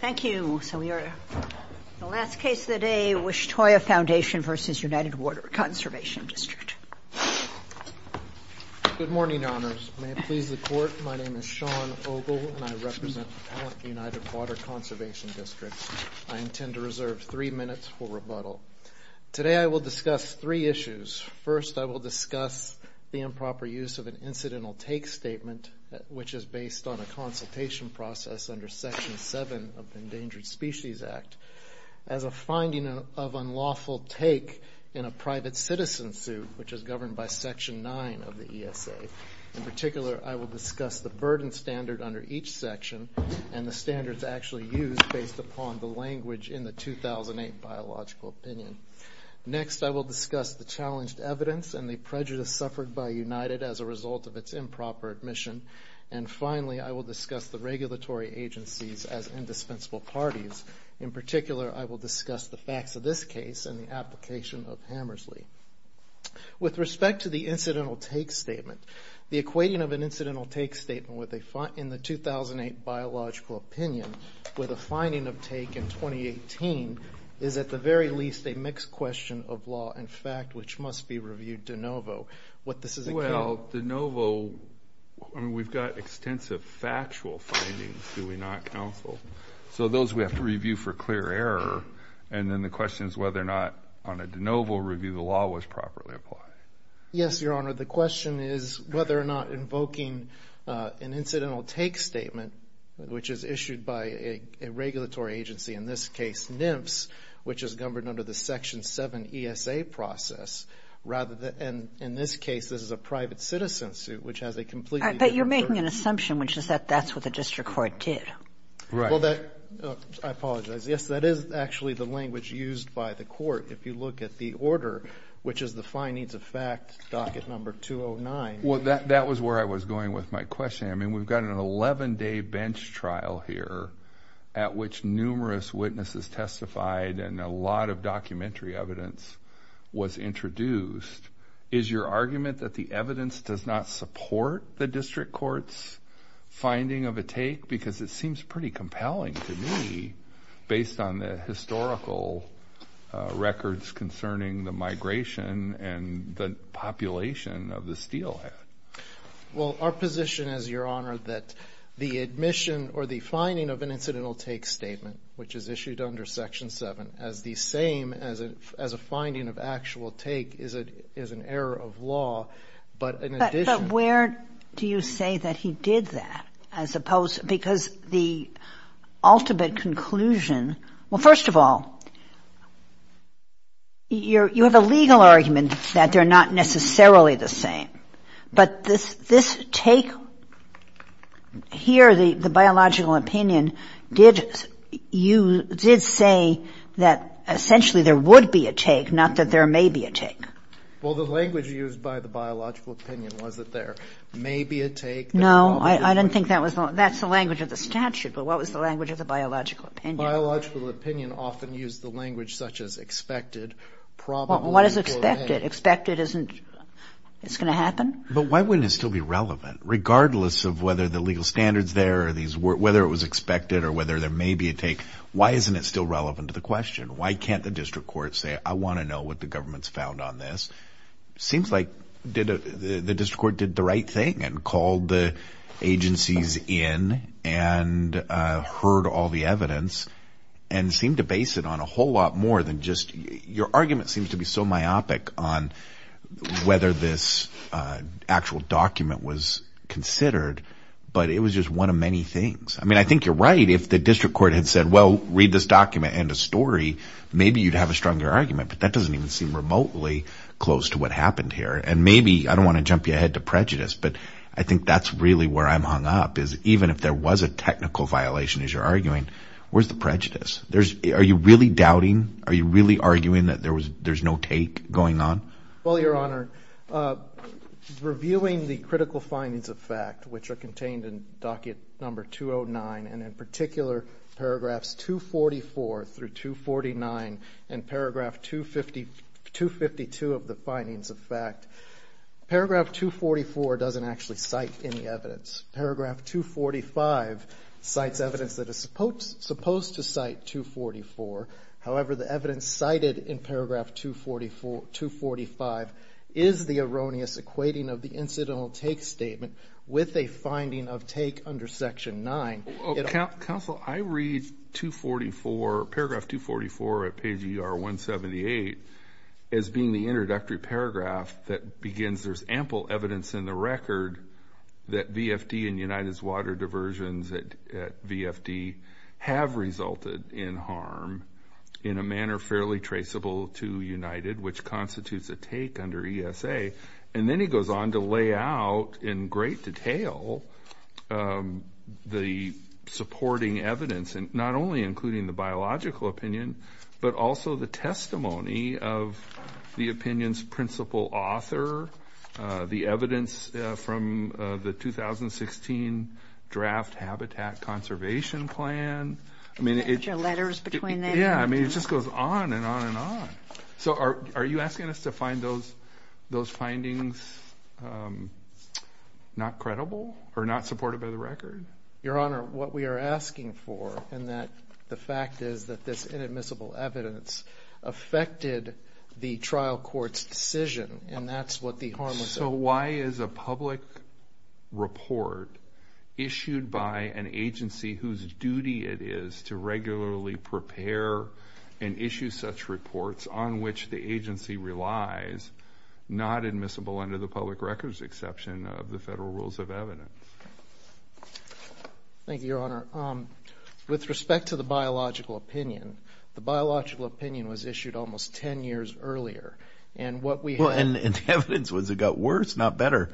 Thank you. So we are at the last case of the day, Wishtoya Foundation v. United Water Conservation District. Good morning, Honors. May it please the Court, my name is Sean Ogle and I represent the United Water Conservation District. I intend to reserve three minutes for rebuttal. Today I will discuss three issues. First, I will discuss the improper use of an incidental take statement, which is based on a consultation process under Section 7 of the Endangered Species Act, as a finding of unlawful take in a private citizen suit, which is governed by Section 9 of the ESA. In particular, I will discuss the burden standard under each section and the standards actually used based upon the language in the 2008 Biological Opinion. Next, I will discuss the challenged evidence and the prejudice suffered by United as a result of its improper admission. And finally, I will discuss the regulatory agencies as indispensable parties. In particular, I will discuss the facts of this case and the application of Hammersley. With respect to the incidental take statement, the equating of an incidental take statement in the 2008 Biological Opinion with a finding of take in 2018 is at the very least a mixed question of law and fact, which must be reviewed de novo. What this is account... Well, de novo... I mean, we've got extensive factual findings, do we not, counsel? So those we have to review for clear error. And then the question is whether or not, on a de novo review, the law was properly applied. Yes, Your Honor. The question is whether or not invoking an incidental take statement, which is issued by a regulatory agency, in this case NMFS, which is governed under the Section 7 ESA process, rather than, in this case, this is a private citizen suit, which has a completely different... But you're making an assumption, which is that that's what the district court did. Right. Well, that... I apologize. Yes, that is actually the language used by the court, if you look at the order, which is the fine needs of fact docket number 209. Well, that was where I was going with my question. I mean, we've got an 11-day bench trial here at which numerous witnesses testified and a lot of documentary evidence was introduced. Is your argument that the evidence does not support the district court's finding of a take? Because it seems pretty compelling to me, based on the historical records concerning the migration and the population of the steelhead. Well, our position is, Your Honor, that the admission or the finding of an incidental take statement, which is issued under Section 7, as the same as a finding of actual take, is an error of law. But in addition... But where do you say that he did that, as opposed... Because the ultimate conclusion... Well, first of all, you have a legal argument that they're not necessarily the same. But this take here, the biological opinion, did say that essentially there would be a take, not that there may be a take. Well, the language used by the biological opinion was that there may be a take. No, I didn't think that was... That's the language of the statute. But what was the language of the biological opinion? Biological opinion often used the language such as expected, probably, or may. What is expected? Expected isn't... It's going to happen? But why wouldn't it still be relevant? Regardless of whether the legal standard's there, whether it was expected or whether there may be a take, why isn't it still relevant to the question? Why can't the district court say, I want to know what the government's found on this? Seems like the district court did the right thing and called the agencies in and heard all the evidence and seemed to base it on a whole lot more than just... Your argument seems to be so myopic on whether this actual document was considered, but it was just one of many things. I mean, I think you're right if the district court had said, well, read this document and a story, maybe you'd have a stronger argument. But that doesn't even seem remotely close to what happened here. And maybe... I don't want to jump your head to prejudice, but I think that's really where I'm hung up is even if there was a technical violation, as you're arguing, where's the prejudice? Are you really doubting? Are you really arguing that there's no take going on? Well, Your Honor, reviewing the critical findings of fact, which are contained in docket number 209, and in particular, paragraphs 244 through 249 and paragraph 252 of the findings of fact, paragraph 244 doesn't actually cite any evidence. Paragraph 245 cites evidence that is supposed to cite 244. However, the evidence cited in paragraph 245 is the erroneous equating of the incidental take statement with a finding of take under section 9. Counsel, I read 244, paragraph 244 at page ER 178 as being the introductory paragraph that begins there's ample evidence in the record that VFD and United's water diversions at VFD have resulted in harm in a manner fairly traceable to United, which constitutes a take under ESA. And then he goes on to lay out in great detail the supporting evidence, not only including the biological opinion, but also the testimony of the opinion's principal author, the evidence from the 2016 draft habitat conservation plan. I mean, it just goes on and on and on. So are you asking us to find those findings not credible or not supported by the record? Your Honor, what we are asking for in that the fact is that this inadmissible evidence affected the trial court's decision and that's what the harm was. So why is a public report issued by an agency whose duty it is to regularly prepare and issue such reports on which the agency relies not admissible under the public records exception of the federal rules of evidence? Thank you, Your Honor. With respect to the biological opinion, the biological opinion was issued almost 10 years earlier. And the evidence, it got worse, not better.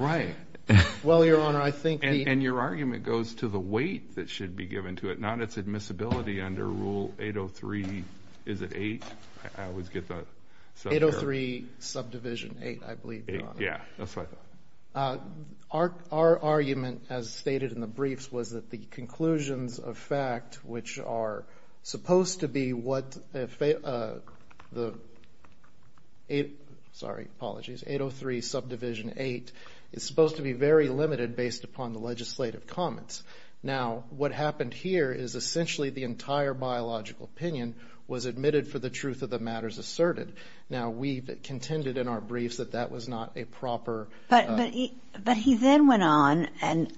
Well, Your Honor, I think... And your argument goes to the weight that should be given to it, not its admissibility under Rule 803, is it 8? I always get that. 803 subdivision 8, I believe, Your Honor. Yeah, that's right. Our argument, as stated in the briefs, was that the conclusions of fact, which are supposed to be what... Sorry, apologies. 803 subdivision 8 is supposed to be very limited based upon the legislative comments. Now, what happened here is essentially the entire biological opinion was admitted for the truth of the matters asserted. Now, we contended in our briefs that that was not a proper... But he then went on and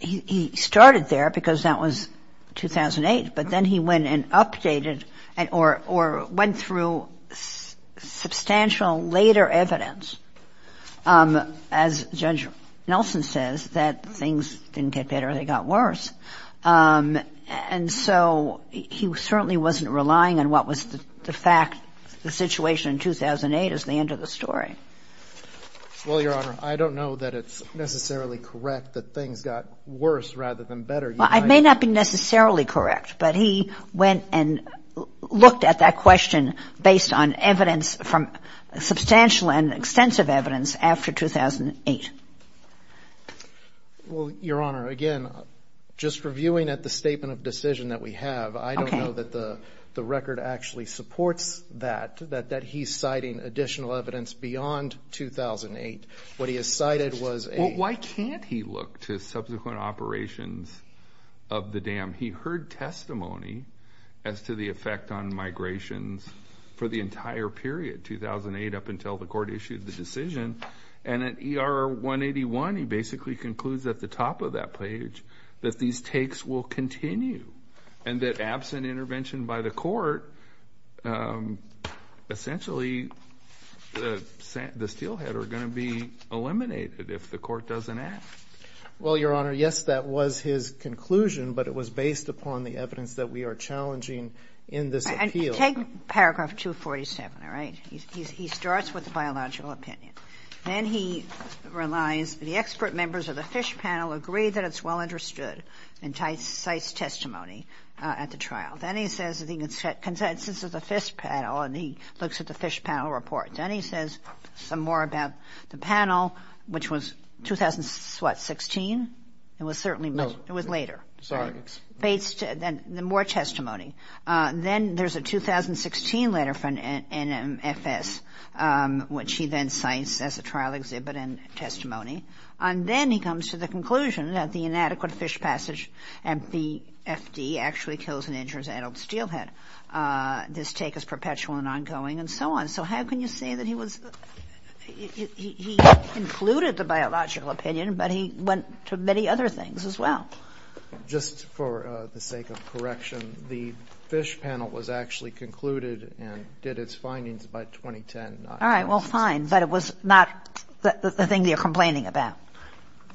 he started there because that was 2008. But then he went and updated or went through substantial later evidence, as Judge Nelson says, that things didn't get better, they got worse. And so he certainly wasn't relying on what was the fact. The situation in 2008 is the end of the story. Well, Your Honor, I don't know that it's necessarily correct that things got worse rather than better. I may not be necessarily correct, but he went and looked at that question based on evidence from substantial and extensive evidence after 2008. Well, Your Honor, again, just reviewing at the statement of decision that we have, I don't know that the record actually supports that, that he's citing additional evidence beyond 2008. What he has cited was a... look to subsequent operations of the dam. He heard testimony as to the effect on migrations for the entire period, 2008, up until the court issued the decision. And at ER 181, he basically concludes at the top of that page that these takes will continue and that absent intervention by the court, essentially, the steelhead are going to be eliminated if the court doesn't act. Well, Your Honor, yes, that was his conclusion, but it was based upon the evidence that we are challenging in this appeal. And take paragraph 247, all right? He starts with the biological opinion. Then he relies, the expert members of the Fish Panel agree that it's well understood and cites testimony at the trial. Then he says the consensus of the Fish Panel, and he looks at the Fish Panel report. Then he says some more about the panel, which was 2016. It was certainly... No. It was later. Sorry. Based... Then more testimony. Then there's a 2016 letter from NMFS, which he then cites as a trial exhibit and testimony. And then he comes to the conclusion that the inadequate fish passage at BFD actually kills and injures an adult steelhead. This take is perpetual and ongoing and so on. So how can you say that he was... He included the biological opinion, but he went to many other things as well. Just for the sake of correction, the Fish Panel was actually concluded and did its findings by 2010. All right. Well, fine. But it was not the thing that you're complaining about.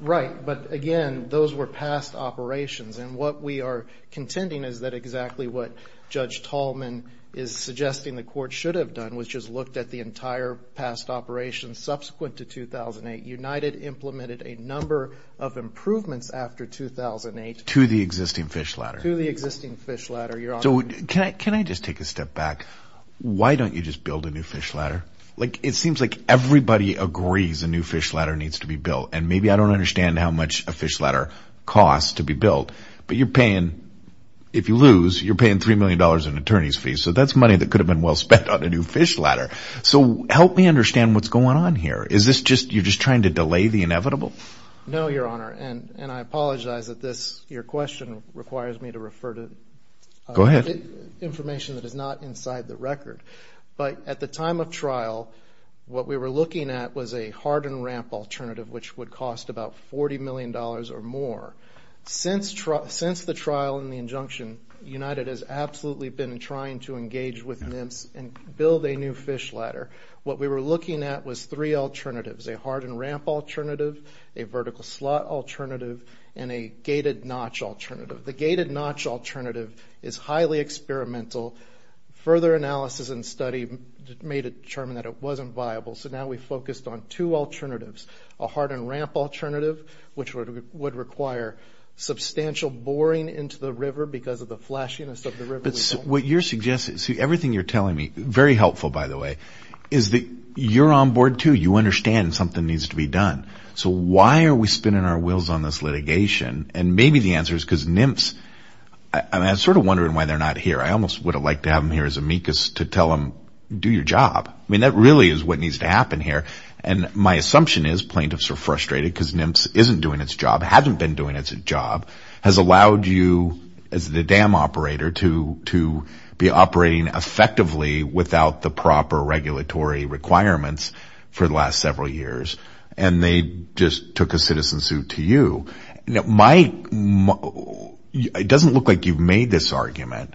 Right. But again, those were past operations. And what we are contending is that exactly what Judge Tallman is suggesting the Court should have done was just looked at the entire past operations subsequent to 2008. United implemented a number of improvements after 2008... To the existing fish ladder. To the existing fish ladder. So can I just take a step back? Why don't you just build a new fish ladder? It seems like everybody agrees a new fish ladder needs to be built. And maybe I don't understand how much a fish ladder costs to be built. But you're paying... If you lose, you're paying $3 million in attorney's fees. So that's money that could have been well spent on a new fish ladder. So help me understand what's going on here. Is this just... You're just trying to delay the inevitable? No, Your Honor. And I apologize that this... Your question requires me to refer to... Go ahead. ...information that is not inside the record. But at the time of trial, what we were looking at was a hardened ramp alternative which would cost about $40 million or more. Since the trial and the injunction, United has absolutely been trying to engage with NIMS and build a new fish ladder. What we were looking at was three alternatives, a hardened ramp alternative, a vertical slot alternative, and a gated notch alternative. The gated notch alternative is highly experimental. Further analysis and study made it determined that it wasn't viable. So now we focused on two alternatives, a hardened ramp alternative, which would require substantial boring into the river because of the flashiness of the river. But what you're suggesting... See, everything you're telling me, very helpful, by the way, is that you're on board, too. You understand something needs to be done. So why are we spinning our wheels on this litigation? And maybe the answer is because NIMS... I'm sort of wondering why they're not here. I almost would have liked to have them here as amicus to tell them, do your job. I mean, that really is what needs to happen here. And my assumption is plaintiffs are frustrated because NIMS isn't doing its job, hasn't been doing its job, has allowed you as the dam operator to be operating effectively without the proper regulatory requirements for the last several years, and they just took a citizen suit to you. My... It doesn't look like you've made this argument,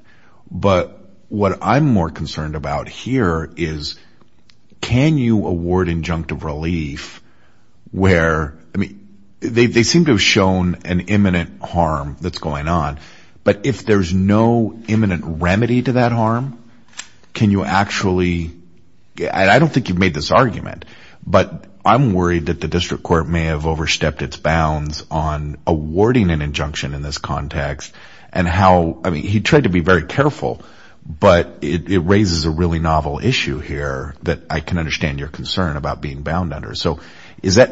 but what I'm more concerned about here is can you award injunctive relief where... They seem to have shown an imminent harm that's going on, but if there's no imminent remedy to that harm, can you actually... I don't think you've made this argument, but I'm worried that the district court may have overstepped its bounds on awarding an injunction in this context and how... I mean, he tried to be very careful, but it raises a really novel issue here that I can understand your concern about being bound under. So is that...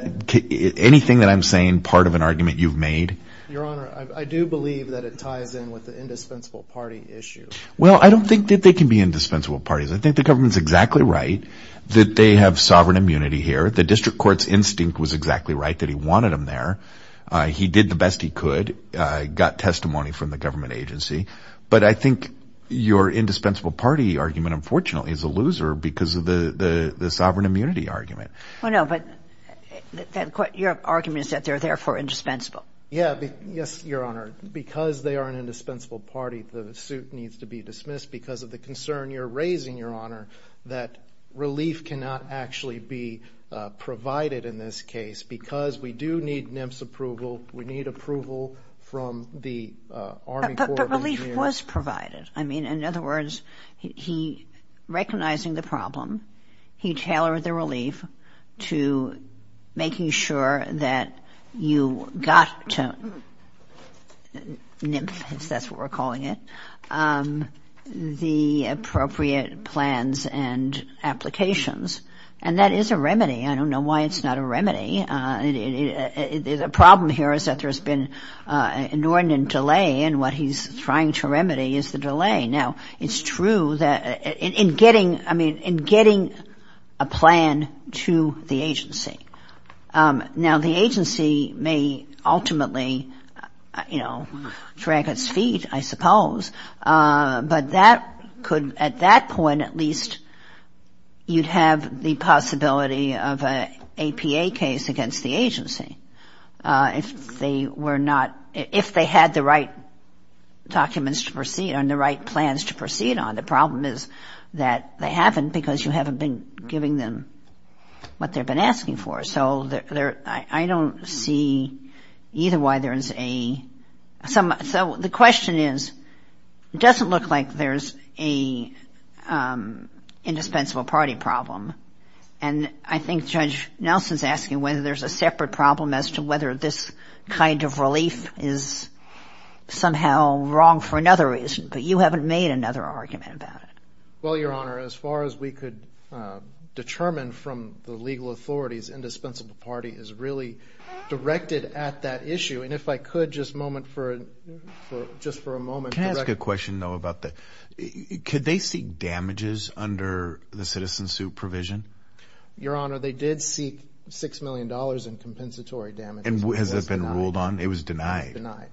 Anything that I'm saying part of an argument you've made? Your Honor, I do believe that it ties in with the indispensable party issue. Well, I don't think that they can be indispensable parties. I think the government's exactly right that they have sovereign immunity here. The district court's instinct was exactly right that he wanted them there. He did the best he could, got testimony from the government agency. But I think your indispensable party argument, unfortunately, is a loser because of the sovereign immunity argument. Well, no, but your argument is that they're therefore indispensable. Yeah, yes, Your Honor. Because they are an indispensable party, the suit needs to be dismissed because of the concern you're raising, Your Honor, that relief cannot actually be provided in this case because we do need NIMS approval. We need approval from the Army Corps of Engineers. But relief was provided. I mean, in other words, he, recognizing the problem, he tailored the relief to making sure that you got to NIMS, if that's what we're calling it, the appropriate plans and applications. And that is a remedy. I don't know why it's not a remedy. The problem here is that there's been an inordinate delay, and what he's trying to remedy is the delay. Now, it's true that in getting, I mean, in getting a plan to the agency. Now, the agency may ultimately, you know, drag its feet, I suppose. But that could, at that point at least, you'd have the possibility of an APA case against the agency. If they were not, if they had the right documents to proceed on, the right plans to proceed on, the problem is that they haven't because you haven't been giving them what they've been asking for. So I don't see either why there's a, so the question is, it doesn't look like there's a indispensable party problem. And I think Judge Nelson's asking whether there's a separate problem as to whether this kind of relief is somehow wrong for another reason. But you haven't made another argument about it. Well, Your Honor, as far as we could determine from the legal authorities, indispensable party is really directed at that issue. And if I could just moment for, just for a moment. Can I ask a question, though, about that? Could they seek damages under the citizen suit provision? Your Honor, they did seek $6 million in compensatory damages. And has that been ruled on? It was denied. It was denied.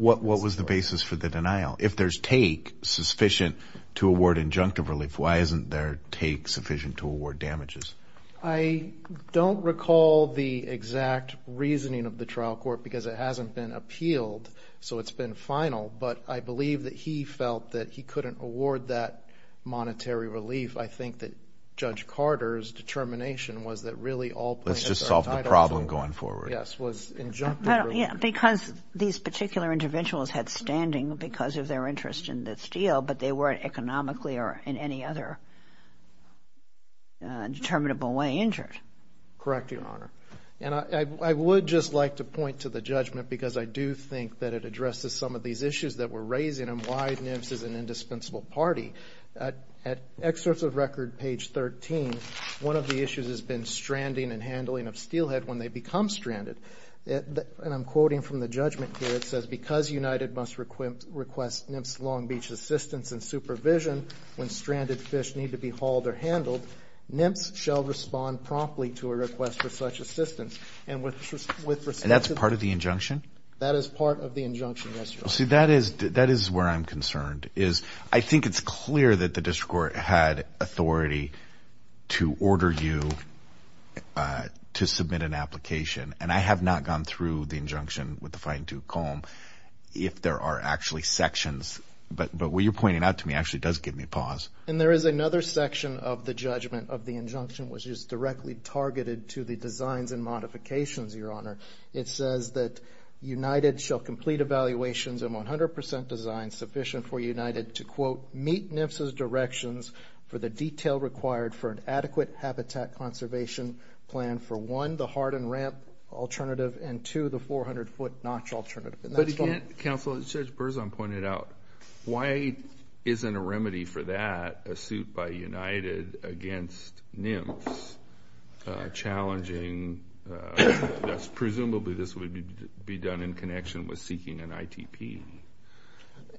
What was the basis for the denial? If there's take sufficient to award injunctive relief, why isn't there take sufficient to award damages? I don't recall the exact reasoning of the trial court because it hasn't been appealed, so it's been final. But I believe that he felt that he couldn't award that monetary relief. I think that Judge Carter's determination was that really all plaintiffs Let's just solve the problem going forward. Yes, was injunctive relief. Because these particular interventions had standing because of their interest in this deal, but they weren't economically or in any other determinable way injured. Correct, Your Honor. And I would just like to point to the judgment because I do think that it addresses some of these issues that we're raising and why NIMS is an indispensable party. At excerpts of record, page 13, one of the issues has been stranding and handling of steelhead when they become stranded. And I'm quoting from the judgment here. It says, Because United must request NIMS Long Beach assistance and supervision when stranded fish need to be hauled or handled, NIMS shall respond promptly to a request for such assistance. And that's part of the injunction? That is part of the injunction, yes, Your Honor. See, that is where I'm concerned. I think it's clear that the district court had authority to order you to submit an application, and I have not gone through the injunction with the fine-tooth comb if there are actually sections. But what you're pointing out to me actually does give me pause. And there is another section of the judgment of the injunction which is directly targeted to the designs and modifications, Your Honor. It says that United shall complete evaluations and 100% design sufficient for United to, quote, meet NIMS's directions for the detail required for an adequate habitat conservation plan for one, the hardened ramp alternative, and two, the 400-foot notch alternative. But again, Counsel, Judge Berzon pointed out, why isn't a remedy for that, a suit by United against NIMS, challenging presumably this would be done in connection with seeking an ITP?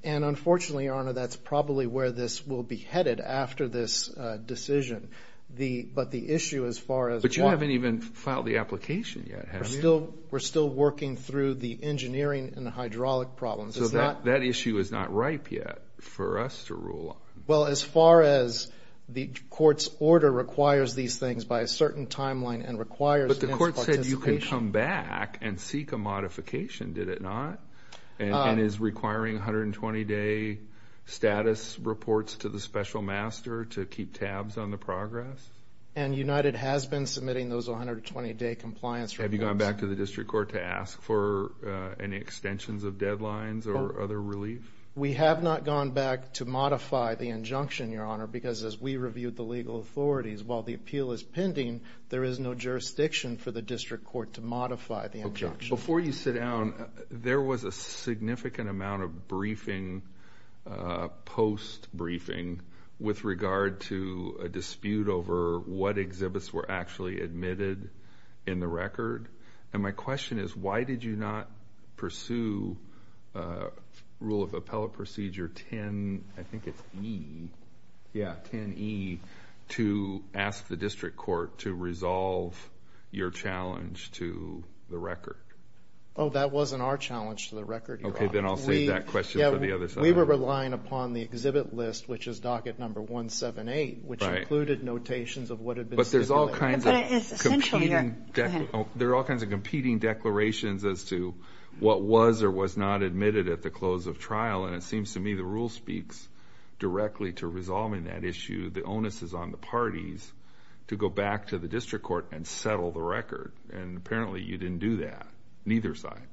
And unfortunately, Your Honor, that's probably where this will be headed after this decision. But the issue as far as what – But you haven't even filed the application yet, have you? We're still working through the engineering and the hydraulic problems. So that issue is not ripe yet for us to rule on. Well, as far as the court's order requires these things by a certain timeline and requires NIMS participation. But the court said you can come back and seek a modification, did it not? And is requiring 120-day status reports to the special master to keep tabs on the progress? And United has been submitting those 120-day compliance reports. Have you gone back to the district court to ask for any extensions of deadlines or other relief? We have not gone back to modify the injunction, Your Honor, because as we reviewed the legal authorities, while the appeal is pending, there is no jurisdiction for the district court to modify the injunction. Okay. Before you sit down, there was a significant amount of briefing, post-briefing, with regard to a dispute over what exhibits were actually admitted in the record. And my question is, why did you not pursue Rule of Appellate Procedure 10E to ask the district court to resolve your challenge to the record? Oh, that wasn't our challenge to the record, Your Honor. Okay, then I'll save that question for the other side. We were relying upon the exhibit list, which is docket number 178, which included notations of what had been stipulated. But there's all kinds of competing declarations as to what was or was not admitted at the close of trial. And it seems to me the rule speaks directly to resolving that issue. The onus is on the parties to go back to the district court and settle the record. And apparently you didn't do that, neither side.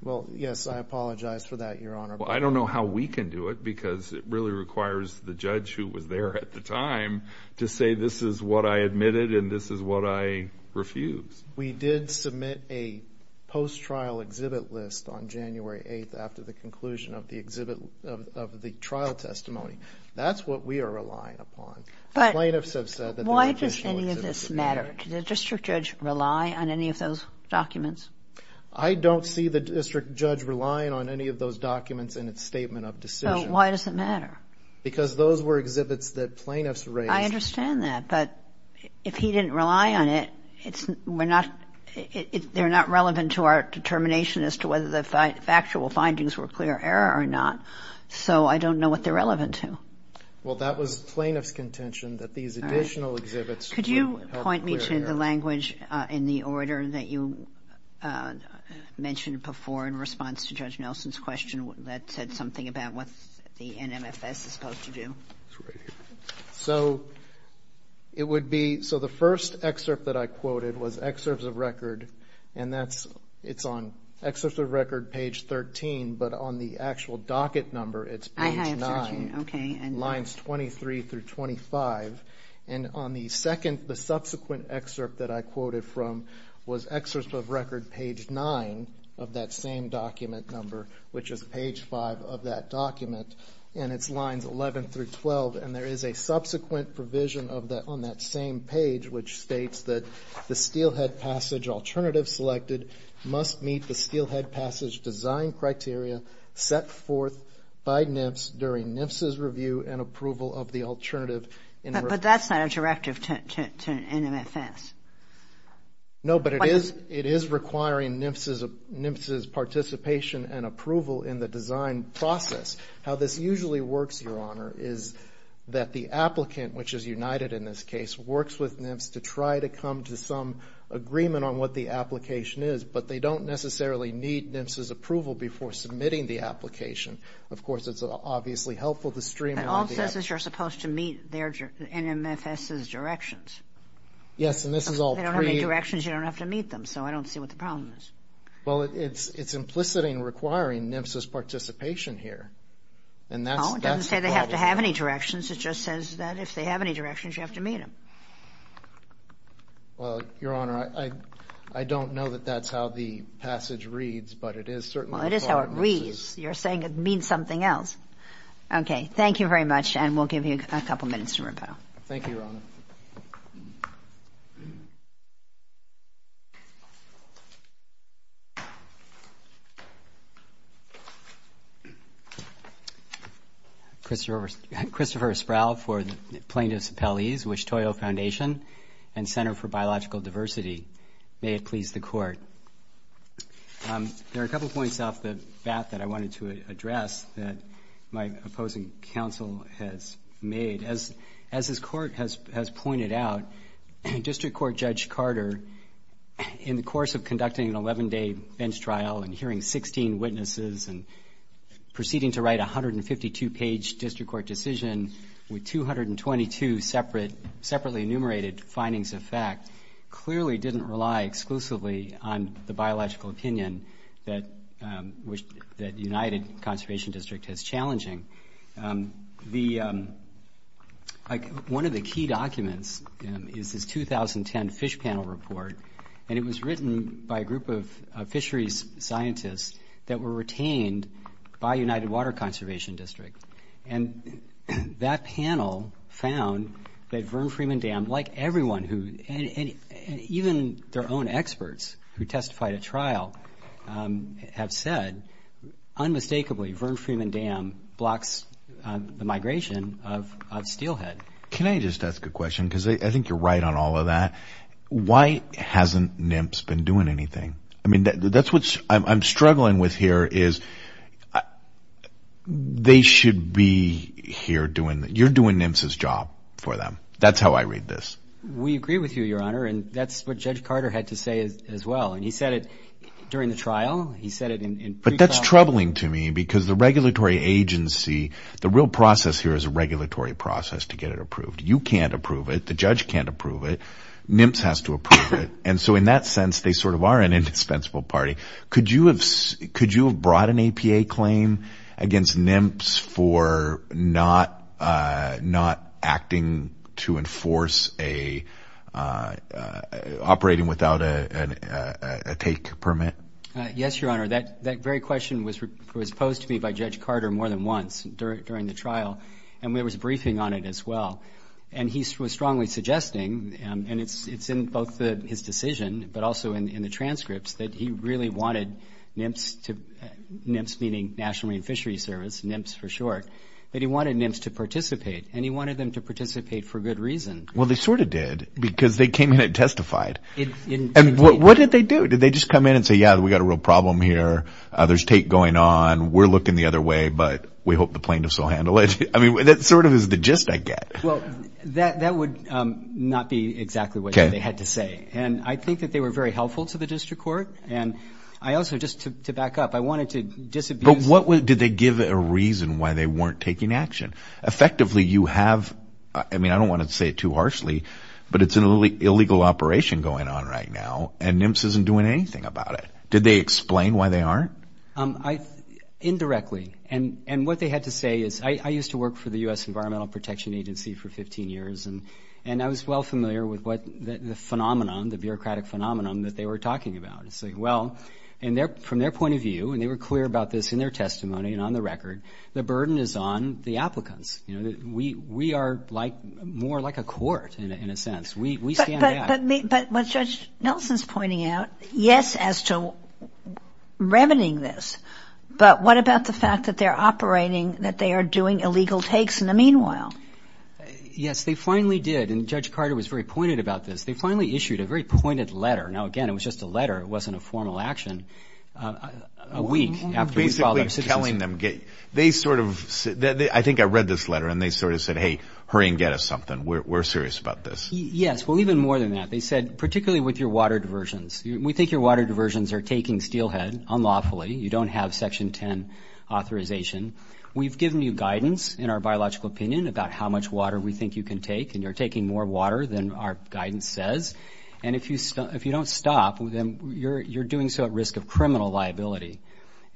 Well, yes, I apologize for that, Your Honor. Well, I don't know how we can do it because it really requires the judge who was there at the time to say this is what I admitted and this is what I refused. We did submit a post-trial exhibit list on January 8th after the conclusion of the trial testimony. That's what we are relying upon. But why does any of this matter? Did the district judge rely on any of those documents? I don't see the district judge relying on any of those documents in its statement of decision. So why does it matter? Because those were exhibits that plaintiffs raised. I understand that. But if he didn't rely on it, they're not relevant to our determination as to whether the factual findings were clear error or not. So I don't know what they're relevant to. Well, that was plaintiff's contention that these additional exhibits were clear error. You mentioned the language in the order that you mentioned before in response to Judge Nelson's question that said something about what the NMFS is supposed to do. It's right here. So the first excerpt that I quoted was excerpts of record, and it's on excerpts of record page 13, but on the actual docket number it's page 9, lines 23 through 25. And on the subsequent excerpt that I quoted from was excerpts of record page 9 of that same document number, which is page 5 of that document, and it's lines 11 through 12. And there is a subsequent provision on that same page which states that the steelhead passage alternative selected must meet the steelhead passage design criteria set forth by NMFS during NMFS's review and approval of the alternative. But that's not a directive to NMFS. No, but it is requiring NMFS's participation and approval in the design process. How this usually works, Your Honor, is that the applicant, which is United in this case, works with NMFS to try to come to some agreement on what the application is, but they don't necessarily need NMFS's approval before submitting the application. All it says is you're supposed to meet NMFS's directions. Yes, and this is all pre- If they don't have any directions, you don't have to meet them, so I don't see what the problem is. Well, it's implicit in requiring NMFS's participation here, and that's the problem. Oh, it doesn't say they have to have any directions. It just says that if they have any directions, you have to meet them. Well, Your Honor, I don't know that that's how the passage reads, but it is certainly a part of NMFS's- Well, it is how it reads. You're saying it means something else. Okay. Thank you very much, and we'll give you a couple minutes to rebuttal. Thank you, Your Honor. Christopher Espral for the plaintiffs' appellees, Wichita Foundation and Center for Biological Diversity. May it please the Court. There are a couple points off the bat that I wanted to address that my opposing counsel has made. As this Court has pointed out, District Court Judge Carter, in the course of conducting an 11-day bench trial and hearing 16 witnesses and proceeding to write a 152-page district court decision with 222 separately enumerated findings of fact, clearly didn't rely exclusively on the biological opinion that United Conservation District has challenging. One of the key documents is this 2010 fish panel report, and it was written by a group of fisheries scientists that were retained by United Water Conservation District. And that panel found that Verne Freeman Dam, like everyone who, and even their own experts who testified at trial have said, unmistakably Verne Freeman Dam blocks the migration of steelhead. Can I just ask a question? Because I think you're right on all of that. Why hasn't NIMPS been doing anything? I mean, that's what I'm struggling with here is they should be here doing, you're doing NIMPS's job for them. That's how I read this. We agree with you, Your Honor, and that's what Judge Carter had to say as well. And he said it during the trial. He said it in pre-trial. But that's troubling to me because the regulatory agency, the real process here is a regulatory process to get it approved. You can't approve it. The judge can't approve it. NIMPS has to approve it. And so in that sense, they sort of are an indispensable party. Could you have brought an APA claim against NIMPS for not acting to enforce a, operating without a take permit? Yes, Your Honor. That very question was posed to me by Judge Carter more than once during the trial. And there was a briefing on it as well. And he was strongly suggesting, and it's in both his decision but also in the transcripts, that he really wanted NIMPS to, NIMPS meaning National Marine Fishery Service, NIMPS for short, that he wanted NIMPS to participate. And he wanted them to participate for good reason. Well, they sort of did because they came in and testified. And what did they do? Did they just come in and say, yeah, we've got a real problem here. There's take going on. We're looking the other way, but we hope the plaintiffs will handle it. I mean, that sort of is the gist I get. Well, that would not be exactly what they had to say. And I think that they were very helpful to the district court. And I also, just to back up, I wanted to disabuse. But did they give a reason why they weren't taking action? Effectively, you have, I mean, I don't want to say it too harshly, but it's an illegal operation going on right now, and NIMPS isn't doing anything about it. Did they explain why they aren't? Indirectly. And what they had to say is, I used to work for the U.S. Environmental Protection Agency for 15 years, and I was well familiar with the phenomenon, the bureaucratic phenomenon that they were talking about. It's like, well, and from their point of view, and they were clear about this in their testimony and on the record, the burden is on the applicants. We are more like a court in a sense. We stand out. But what Judge Nelson's pointing out, yes, as to revening this, but what about the fact that they're operating, that they are doing illegal takes in the meanwhile? Yes, they finally did. And Judge Carter was very pointed about this. They finally issued a very pointed letter. Now, again, it was just a letter. It wasn't a formal action. A week after we filed our citizenship. You're basically telling them, they sort of, I think I read this letter, and they sort of said, hey, hurry and get us something. We're serious about this. Yes. Well, even more than that, they said, particularly with your water diversions, we think your water diversions are taking steelhead unlawfully. You don't have Section 10 authorization. We've given you guidance in our biological opinion about how much water we think you can take, and you're taking more water than our guidance says. And if you don't stop, then you're doing so at risk of criminal liability.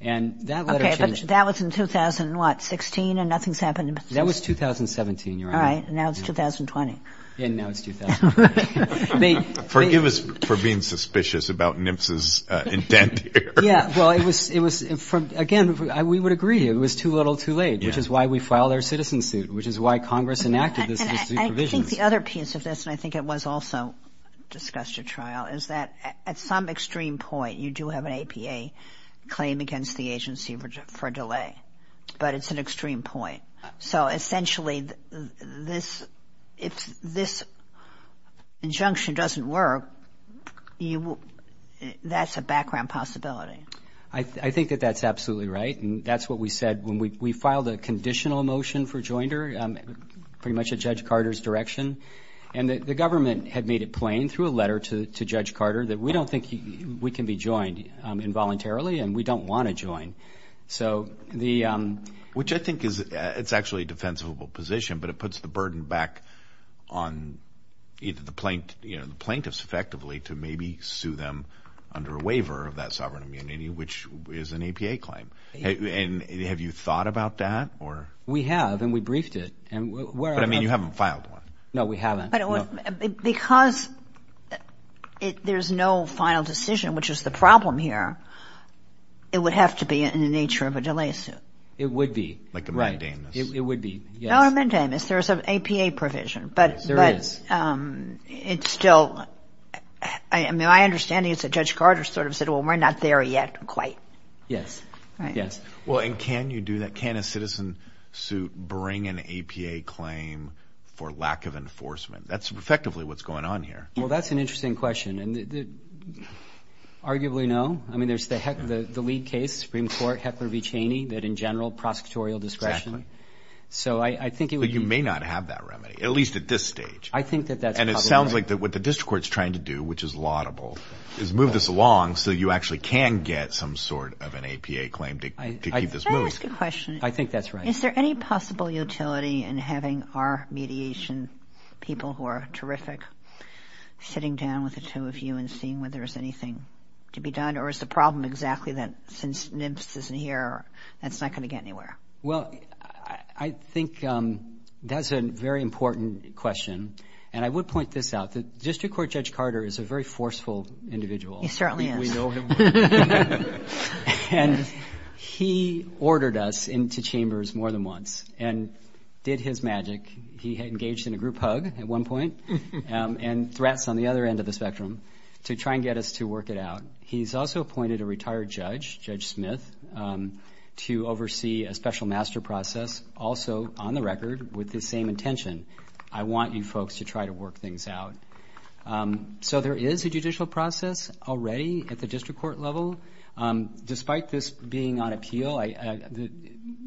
And that letter changed. Okay. But that was in what, 2016, and nothing's happened in 2016? That was 2017, Your Honor. All right. And now it's 2020. And now it's 2020. Forgive us for being suspicious about NMFS's intent here. Yeah, well, it was, again, we would agree it was too little too late, which is why we filed our citizen suit, which is why Congress enacted this provision. I think the other piece of this, and I think it was also discussed at trial, is that at some extreme point you do have an APA claim against the agency for delay, but it's an extreme point. So, essentially, if this injunction doesn't work, that's a background possibility. I think that that's absolutely right, and that's what we said when we filed a conditional motion for joinder, pretty much at Judge Carter's direction. And the government had made it plain through a letter to Judge Carter that we don't think we can be joined involuntarily, and we don't want to join. Which I think is actually a defensible position, but it puts the burden back on either the plaintiffs effectively to maybe sue them under a waiver of that sovereign immunity, which is an APA claim. And have you thought about that? We have, and we briefed it. But, I mean, you haven't filed one. No, we haven't. Because there's no final decision, which is the problem here, it would have to be in the nature of a delay suit. It would be. Like a mandamus. It would be, yes. No, a mandamus. There's an APA provision. There is. But it's still, I mean, my understanding is that Judge Carter sort of said, well, we're not there yet quite. Yes, yes. Well, and can you do that? Can a citizen suit bring an APA claim for lack of enforcement? That's effectively what's going on here. Well, that's an interesting question. Arguably no. I mean, there's the lead case, Supreme Court, Heckler v. Cheney, that in general prosecutorial discretion. Exactly. So I think it would be. But you may not have that remedy, at least at this stage. I think that that's probably right. And it sounds like what the district court's trying to do, which is laudable, is move this along so you actually can get some sort of an APA claim to keep this moving. Can I ask a question? I think that's right. Is there any possible utility in having our mediation people, who are terrific, sitting down with the two of you and seeing whether there's anything to be done? Or is the problem exactly that since NIPS isn't here, that's not going to get anywhere? Well, I think that's a very important question. And I would point this out. The district court Judge Carter is a very forceful individual. He certainly is. We know him. And he ordered us into chambers more than once and did his magic. He had engaged in a group hug at one point and threats on the other end of the spectrum to try and get us to work it out. He's also appointed a retired judge, Judge Smith, to oversee a special master process also on the record with the same intention. I want you folks to try to work things out. So there is a judicial process already at the district court level. Despite this being on appeal,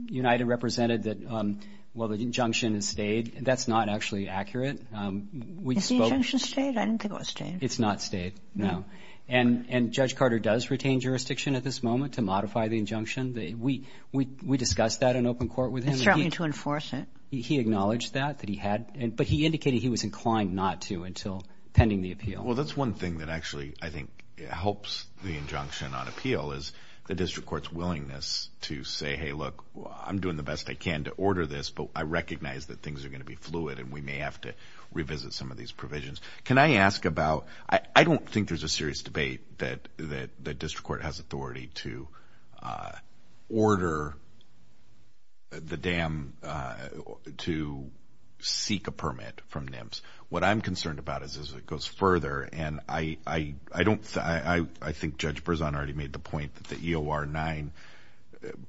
United represented that, well, the injunction is stayed. That's not actually accurate. Is the injunction stayed? I didn't think it was stayed. It's not stayed, no. And Judge Carter does retain jurisdiction at this moment to modify the injunction. We discussed that in open court with him. He's trying to enforce it. He acknowledged that, that he had. But he indicated he was inclined not to until pending the appeal. Well, that's one thing that actually, I think, helps the injunction on appeal as well as the district court's willingness to say, hey, look, I'm doing the best I can to order this, but I recognize that things are going to be fluid and we may have to revisit some of these provisions. Can I ask about, I don't think there's a serious debate that the district court has authority to order the dam to seek a permit from NIMS. What I'm concerned about is it goes further, and I think Judge Berzon already made the point that the EOR 9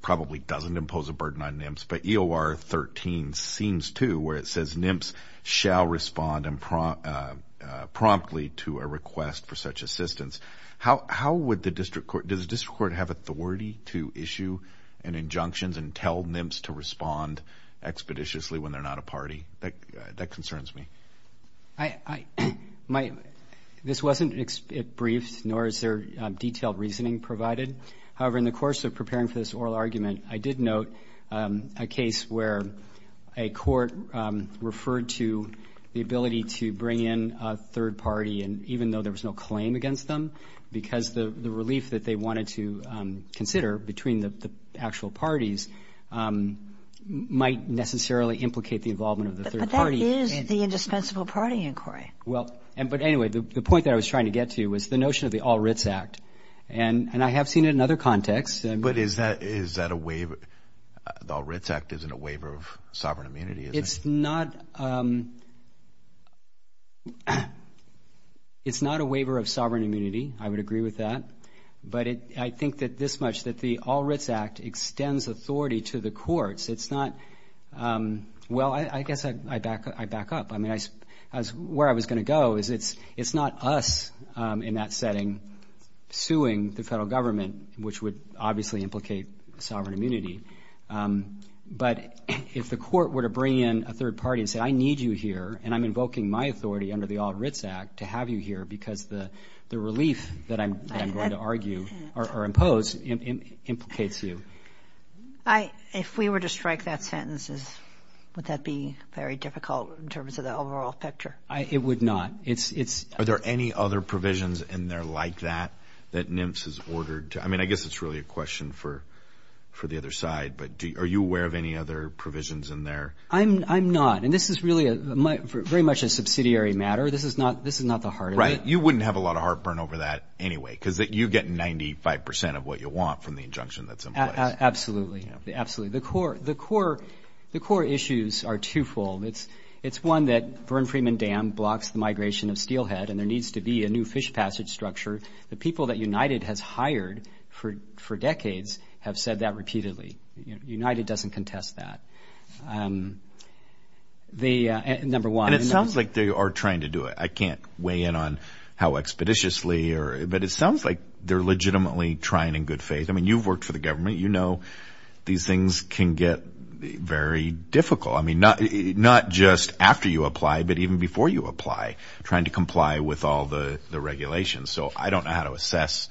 probably doesn't impose a burden on NIMS, but EOR 13 seems to where it says NIMS shall respond promptly to a request for such assistance. How would the district court, does the district court have authority to issue an injunction and tell NIMS to respond expeditiously when they're not a party? That concerns me. This wasn't briefed, nor is there detailed reasoning provided. However, in the course of preparing for this oral argument, I did note a case where a court referred to the ability to bring in a third party, even though there was no claim against them, because the relief that they wanted to consider between the actual parties might necessarily implicate the involvement of the third party. But that is the indispensable party inquiry. Well, but anyway, the point that I was trying to get to was the notion of the All Writs Act, and I have seen it in other contexts. But is that a waiver? The All Writs Act isn't a waiver of sovereign immunity, is it? It's not a waiver of sovereign immunity. I would agree with that. But I think that this much, that the All Writs Act extends authority to the courts. It's not, well, I guess I back up. I mean, where I was going to go is it's not us in that setting suing the federal government, which would obviously implicate sovereign immunity. But if the court were to bring in a third party and say, I need you here and I'm invoking my authority under the All Writs Act to have you here because the relief that I'm going to argue or impose implicates you. If we were to strike that sentence, would that be very difficult in terms of the overall picture? It would not. Are there any other provisions in there like that that NMFS has ordered? I mean, I guess it's really a question for the other side. But are you aware of any other provisions in there? I'm not. And this is really very much a subsidiary matter. This is not the heart of it. Right. You wouldn't have a lot of heartburn over that anyway because you get 95 percent of what you want from the injunction that's in place. Absolutely. Absolutely. The core issues are twofold. It's one that Burn Freeman Dam blocks the migration of steelhead and there needs to be a new fish passage structure. The people that United has hired for decades have said that repeatedly. United doesn't contest that, number one. And it sounds like they are trying to do it. I can't weigh in on how expeditiously. But it sounds like they're legitimately trying in good faith. I mean, you've worked for the government. You know these things can get very difficult. I mean, not just after you apply, but even before you apply, trying to comply with all the regulations. So I don't know how to assess.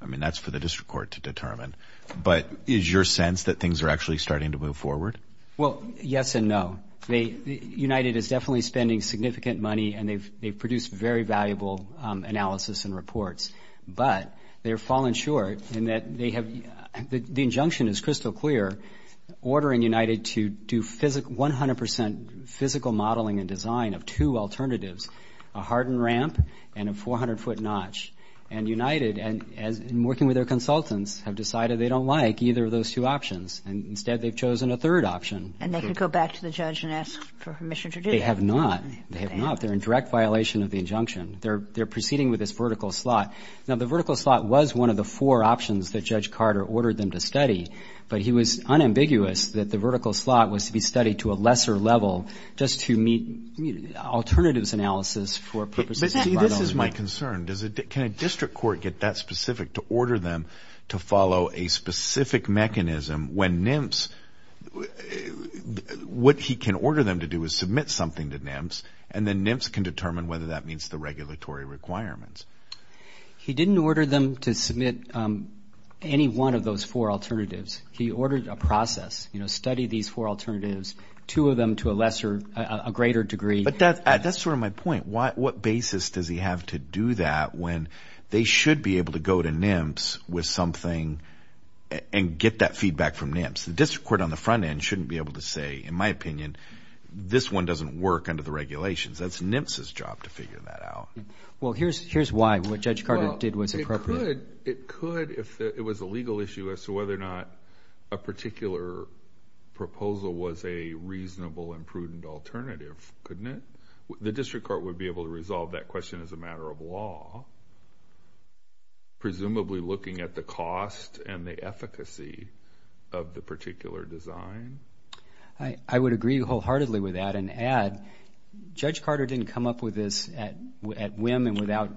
I mean, that's for the district court to determine. But is your sense that things are actually starting to move forward? Well, yes and no. United is definitely spending significant money and they've produced very valuable analysis and reports. But they've fallen short in that they have the injunction is crystal clear, ordering United to do 100% physical modeling and design of two alternatives, a hardened ramp and a 400-foot notch. And United, in working with their consultants, have decided they don't like either of those two options. Instead, they've chosen a third option. And they could go back to the judge and ask for permission to do that. They have not. They have not. They're in direct violation of the injunction. They're proceeding with this vertical slot. Now, the vertical slot was one of the four options that Judge Carter ordered them to study, but he was unambiguous that the vertical slot was to be studied to a lesser level just to meet alternatives analysis for purposes of our government. See, this is my concern. Can a district court get that specific to order them to follow a specific mechanism when NIMS, what he can order them to do is submit something to NIMS, and then NIMS can determine whether that meets the regulatory requirements. He didn't order them to submit any one of those four alternatives. He ordered a process, you know, study these four alternatives, two of them to a lesser, a greater degree. But that's sort of my point. What basis does he have to do that when they should be able to go to NIMS with something and get that feedback from NIMS? The district court on the front end shouldn't be able to say, in my opinion, this one doesn't work under the regulations. That's NIMS's job to figure that out. Well, here's why. What Judge Carter did was appropriate. It could if it was a legal issue as to whether or not a particular proposal was a reasonable and prudent alternative, couldn't it? Presumably looking at the cost and the efficacy of the particular design. I would agree wholeheartedly with that and add Judge Carter didn't come up with this at whim and without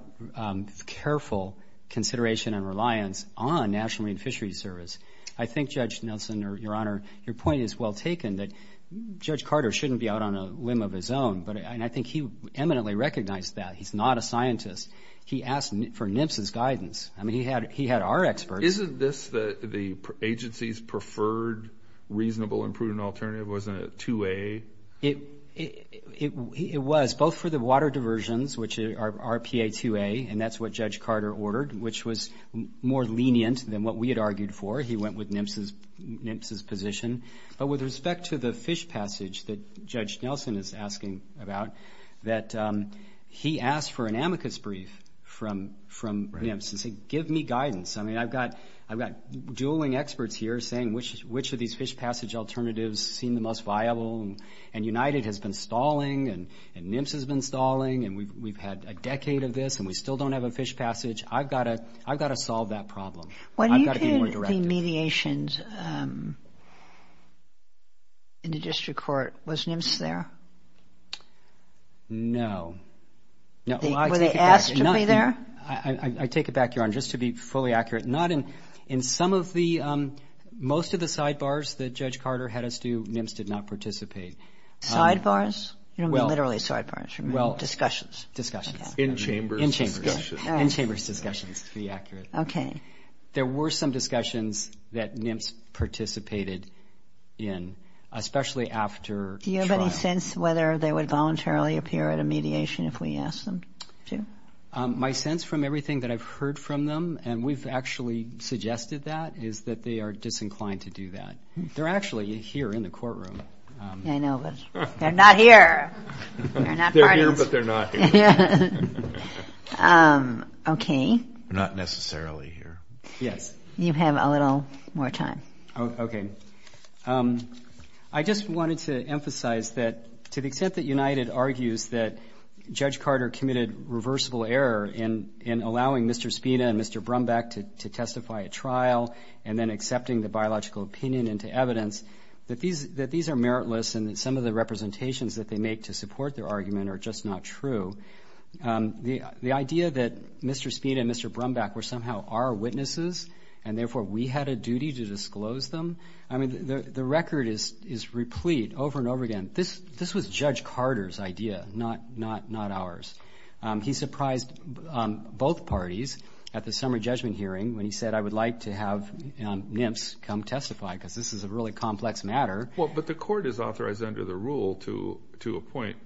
careful consideration and reliance on National Marine Fisheries Service. I think, Judge Nelson, Your Honor, your point is well taken, that Judge Carter shouldn't be out on a whim of his own, and I think he eminently recognized that. He's not a scientist. He asked for NIMS's guidance. I mean, he had our experts. Isn't this the agency's preferred reasonable and prudent alternative? Wasn't it 2A? It was, both for the water diversions, which are PA2A, and that's what Judge Carter ordered, which was more lenient than what we had argued for. He went with NIMS's position. But with respect to the fish passage that Judge Nelson is asking about, that he asked for an amicus brief from NIMS and said, give me guidance. I mean, I've got dual-wing experts here saying which of these fish passage alternatives seem the most viable, and United has been stalling, and NIMS has been stalling, and we've had a decade of this, and we still don't have a fish passage. I've got to solve that problem. I've got to be more directive. Was there any mediation in the district court? Was NIMS there? No. Were they asked to be there? I take it back, Your Honor, just to be fully accurate, not in some of the most of the sidebars that Judge Carter had us do, NIMS did not participate. You don't mean literally sidebars. Discussions. Discussions. In chambers. In chambers. In chambers discussions, to be accurate. Okay. There were some discussions that NIMS participated in, especially after trial. Do you have any sense whether they would voluntarily appear at a mediation if we asked them to? My sense from everything that I've heard from them, and we've actually suggested that, is that they are disinclined to do that. They're actually here in the courtroom. I know, but they're not here. They're here, but they're not here. Okay. Not necessarily here. Yes. You have a little more time. Okay. I just wanted to emphasize that to the extent that United argues that Judge Carter committed reversible error in allowing Mr. Spina and Mr. Brumback to testify at trial and then accepting the biological opinion into evidence, that these are meritless and that some of the representations that they make to support their argument are just not true. The idea that Mr. Spina and Mr. Brumback were somehow our witnesses and therefore we had a duty to disclose them, I mean, the record is replete over and over again. This was Judge Carter's idea, not ours. He surprised both parties at the summary judgment hearing when he said I would like to have NIMS come testify because this is a really complex matter. Well, but the court is authorized under the rule to appoint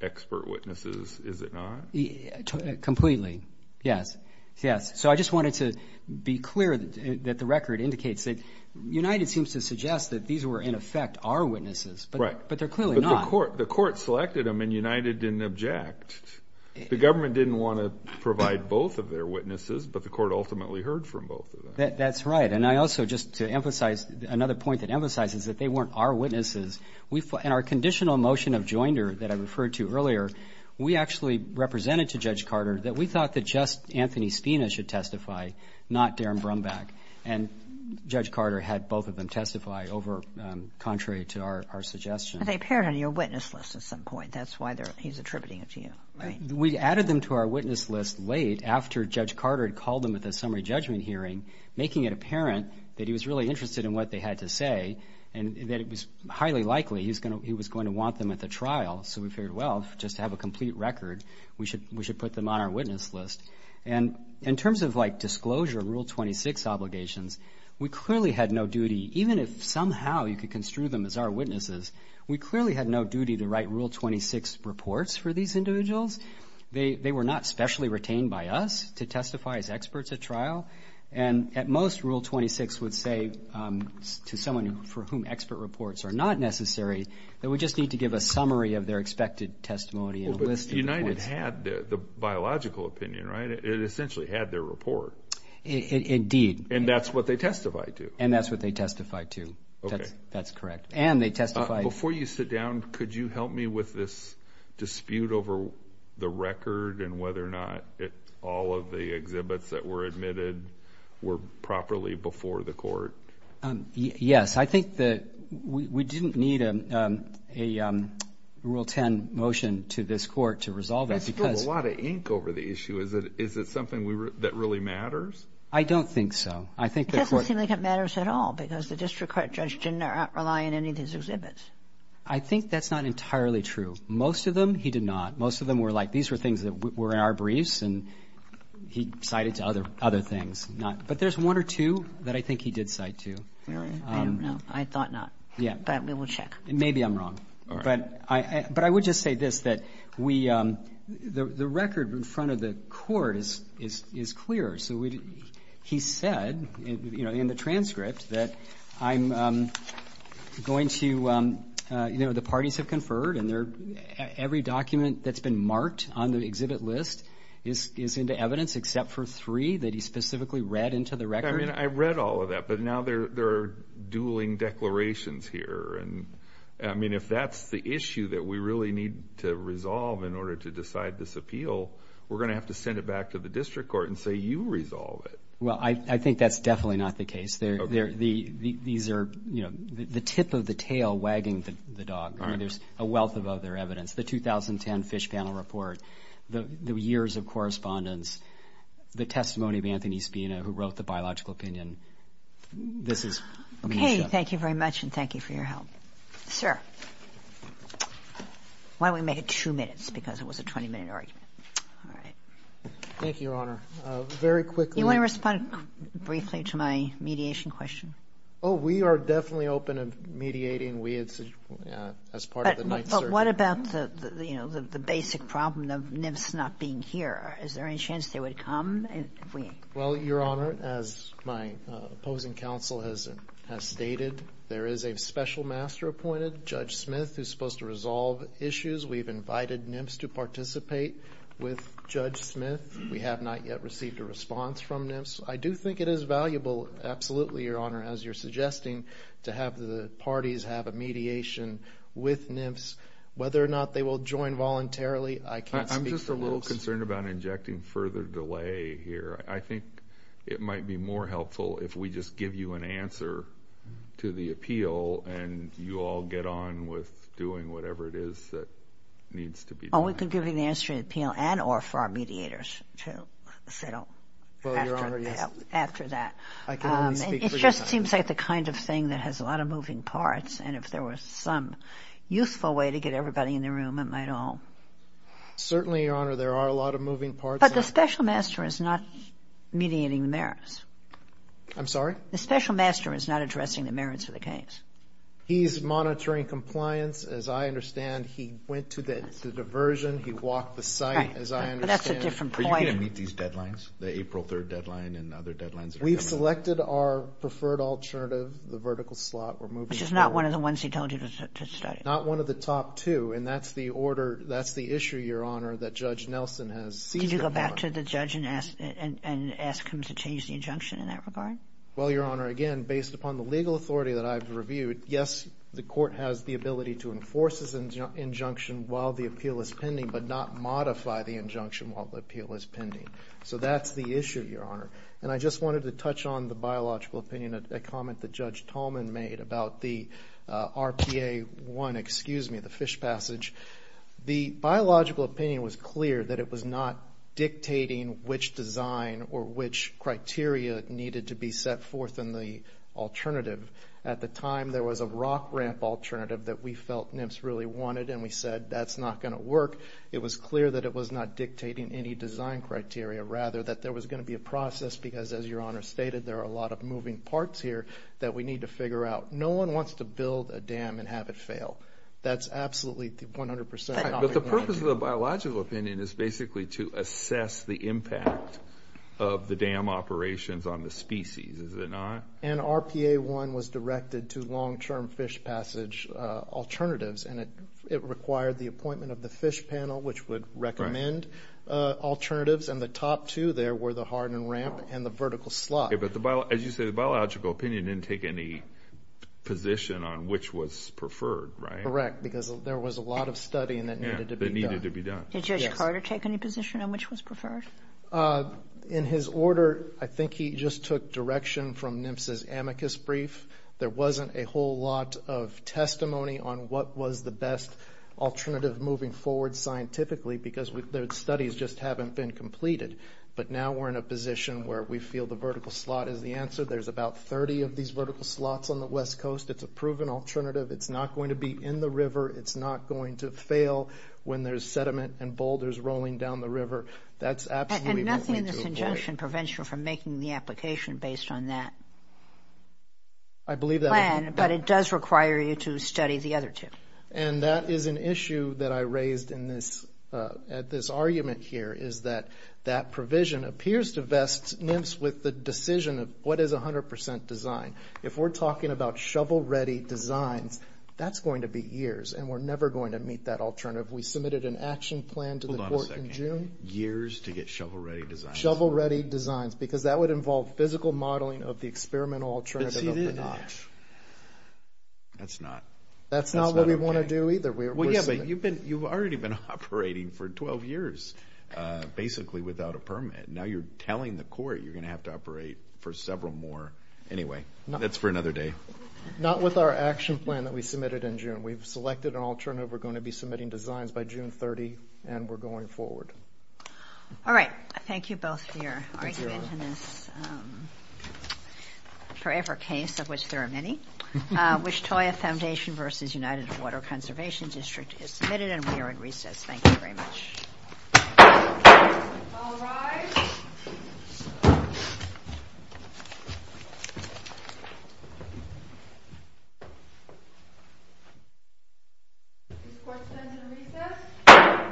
expert witnesses, is it not? Completely, yes. Yes. So I just wanted to be clear that the record indicates that United seems to suggest that these were in effect our witnesses, but they're clearly not. But the court selected them and United didn't object. The government didn't want to provide both of their witnesses, but the court ultimately heard from both of them. That's right. And I also just to emphasize another point that emphasizes that they weren't our witnesses. In our conditional motion of joinder that I referred to earlier, we actually represented to Judge Carter that we thought that just Anthony Spina should testify, not Darren Brumback, and Judge Carter had both of them testify over contrary to our suggestion. But they appeared on your witness list at some point. That's why he's attributing it to you, right? We added them to our witness list late after Judge Carter had called them at the summary judgment hearing, making it apparent that he was really interested in what they had to say and that it was highly likely he was going to want them at the trial. So we figured, well, just to have a complete record, we should put them on our witness list. And in terms of, like, disclosure of Rule 26 obligations, we clearly had no duty, even if somehow you could construe them as our witnesses, we clearly had no duty to write Rule 26 reports for these individuals. And at most, Rule 26 would say to someone for whom expert reports are not necessary that we just need to give a summary of their expected testimony and a list of reports. But United had the biological opinion, right? It essentially had their report. Indeed. And that's what they testified to. And that's what they testified to. That's correct. And they testified. Before you sit down, could you help me with this dispute over the record and whether or not all of the exhibits that were admitted were properly before the court? Yes. I think that we didn't need a Rule 10 motion to this court to resolve it. There's still a lot of ink over the issue. Is it something that really matters? I don't think so. It doesn't seem like it matters at all because the district court judge didn't rely on any of these exhibits. I think that's not entirely true. Most of them he did not. Most of them were like these were things that were in our briefs and he cited to other things. But there's one or two that I think he did cite to. Really? I don't know. I thought not. Yeah. But we will check. Maybe I'm wrong. All right. But I would just say this, that the record in front of the court is clear. So he said in the transcript that I'm going to, you know, the parties have conferred and every document that's been marked on the exhibit list is into evidence except for three that he specifically read into the record. I mean, I read all of that, but now there are dueling declarations here. And, I mean, if that's the issue that we really need to resolve in order to decide this appeal, we're going to have to send it back to the district court and say you resolve it. Well, I think that's definitely not the case. These are, you know, the tip of the tail wagging the dog. I mean, there's a wealth of other evidence. The 2010 Fish Panel Report, the years of correspondence, the testimony of Anthony Spina who wrote the biological opinion, this is... Okay. Thank you very much and thank you for your help. Sir. Why don't we make it two minutes because it was a 20-minute argument. All right. Thank you, Your Honor. Very quickly... Do you want to respond briefly to my mediation question? Oh, we are definitely open to mediating. We as part of the Ninth Circuit. But what about the, you know, the basic problem of NIPS not being here? Is there any chance they would come if we... Judge Smith is supposed to resolve issues. We've invited NIPS to participate with Judge Smith. We have not yet received a response from NIPS. I do think it is valuable, absolutely, Your Honor, as you're suggesting, to have the parties have a mediation with NIPS. Whether or not they will join voluntarily, I can't speak for... I'm just a little concerned about injecting further delay here. I think it might be more helpful if we just give you an answer to the appeal and you all get on with doing whatever it is that needs to be done. Oh, we can give you an answer to the appeal and or for our mediators to settle after that. Well, Your Honor, yes. I can only speak for Your Honor. It just seems like the kind of thing that has a lot of moving parts, and if there was some useful way to get everybody in the room, it might all... Certainly, Your Honor, there are a lot of moving parts. But the special master is not mediating the merits. I'm sorry? The special master is not addressing the merits of the case. He's monitoring compliance. As I understand, he went to the diversion, he walked the site, as I understand... Right, but that's a different point. Are you going to meet these deadlines, the April 3rd deadline and other deadlines? We've selected our preferred alternative, the vertical slot. Which is not one of the ones he told you to study. Not one of the top two, and that's the order, that's the issue, Your Honor, that Judge Nelson has... Did you go back to the judge and ask him to change the injunction in that regard? Well, Your Honor, again, based upon the legal authority that I've reviewed, yes, the court has the ability to enforce his injunction while the appeal is pending, but not modify the injunction while the appeal is pending. So that's the issue, Your Honor. And I just wanted to touch on the biological opinion, a comment that Judge Tolman made about the RPA1, excuse me, the fish passage. The biological opinion was clear that it was not dictating which design or which criteria needed to be set forth in the alternative. At the time there was a rock ramp alternative that we felt NMFS really wanted and we said that's not going to work. It was clear that it was not dictating any design criteria, rather that there was going to be a process because, as Your Honor stated, there are a lot of moving parts here that we need to figure out. No one wants to build a dam and have it fail. That's absolutely 100 percent. But the purpose of the biological opinion is basically to assess the impact of the dam operations on the species, is it not? And RPA1 was directed to long-term fish passage alternatives and it required the appointment of the fish panel, which would recommend alternatives, and the top two there were the hardened ramp and the vertical slot. Okay, but as you say, the biological opinion didn't take any position on which was preferred, right? Correct, because there was a lot of studying that needed to be done. Did Judge Carter take any position on which was preferred? In his order, I think he just took direction from NMFS's amicus brief. There wasn't a whole lot of testimony on what was the best alternative moving forward scientifically because the studies just haven't been completed. But now we're in a position where we feel the vertical slot is the answer. There's about 30 of these vertical slots on the West Coast. It's a proven alternative. It's not going to be in the river. It's not going to fail when there's sediment and boulders rolling down the river. That's absolutely what we need to avoid. And nothing in this injunction prevents you from making the application based on that plan, but it does require you to study the other two. And that is an issue that I raised in this argument here is that that provision appears to vest NMFS with the decision of what is 100% design. If we're talking about shovel-ready designs, that's going to be years, and we're never going to meet that alternative. We submitted an action plan to the court in June. Hold on a second. Years to get shovel-ready designs? Shovel-ready designs, because that would involve physical modeling of the experimental alternative of the knot. But see, it is years. That's not okay. That's not what we want to do either. Well, yeah, but you've already been operating for 12 years, basically, without a permit. Now you're telling the court you're going to have to operate for several more. Anyway, that's for another day. Not with our action plan that we submitted in June. We've selected an alternative. We're going to be submitting designs by June 30, and we're going forward. All right. Thank you both for your argument in this forever case, of which there are many. Wichita Foundation v. United Water Conservation District is submitted, and we are in recess. Thank you very much. All rise. This court stands in recess.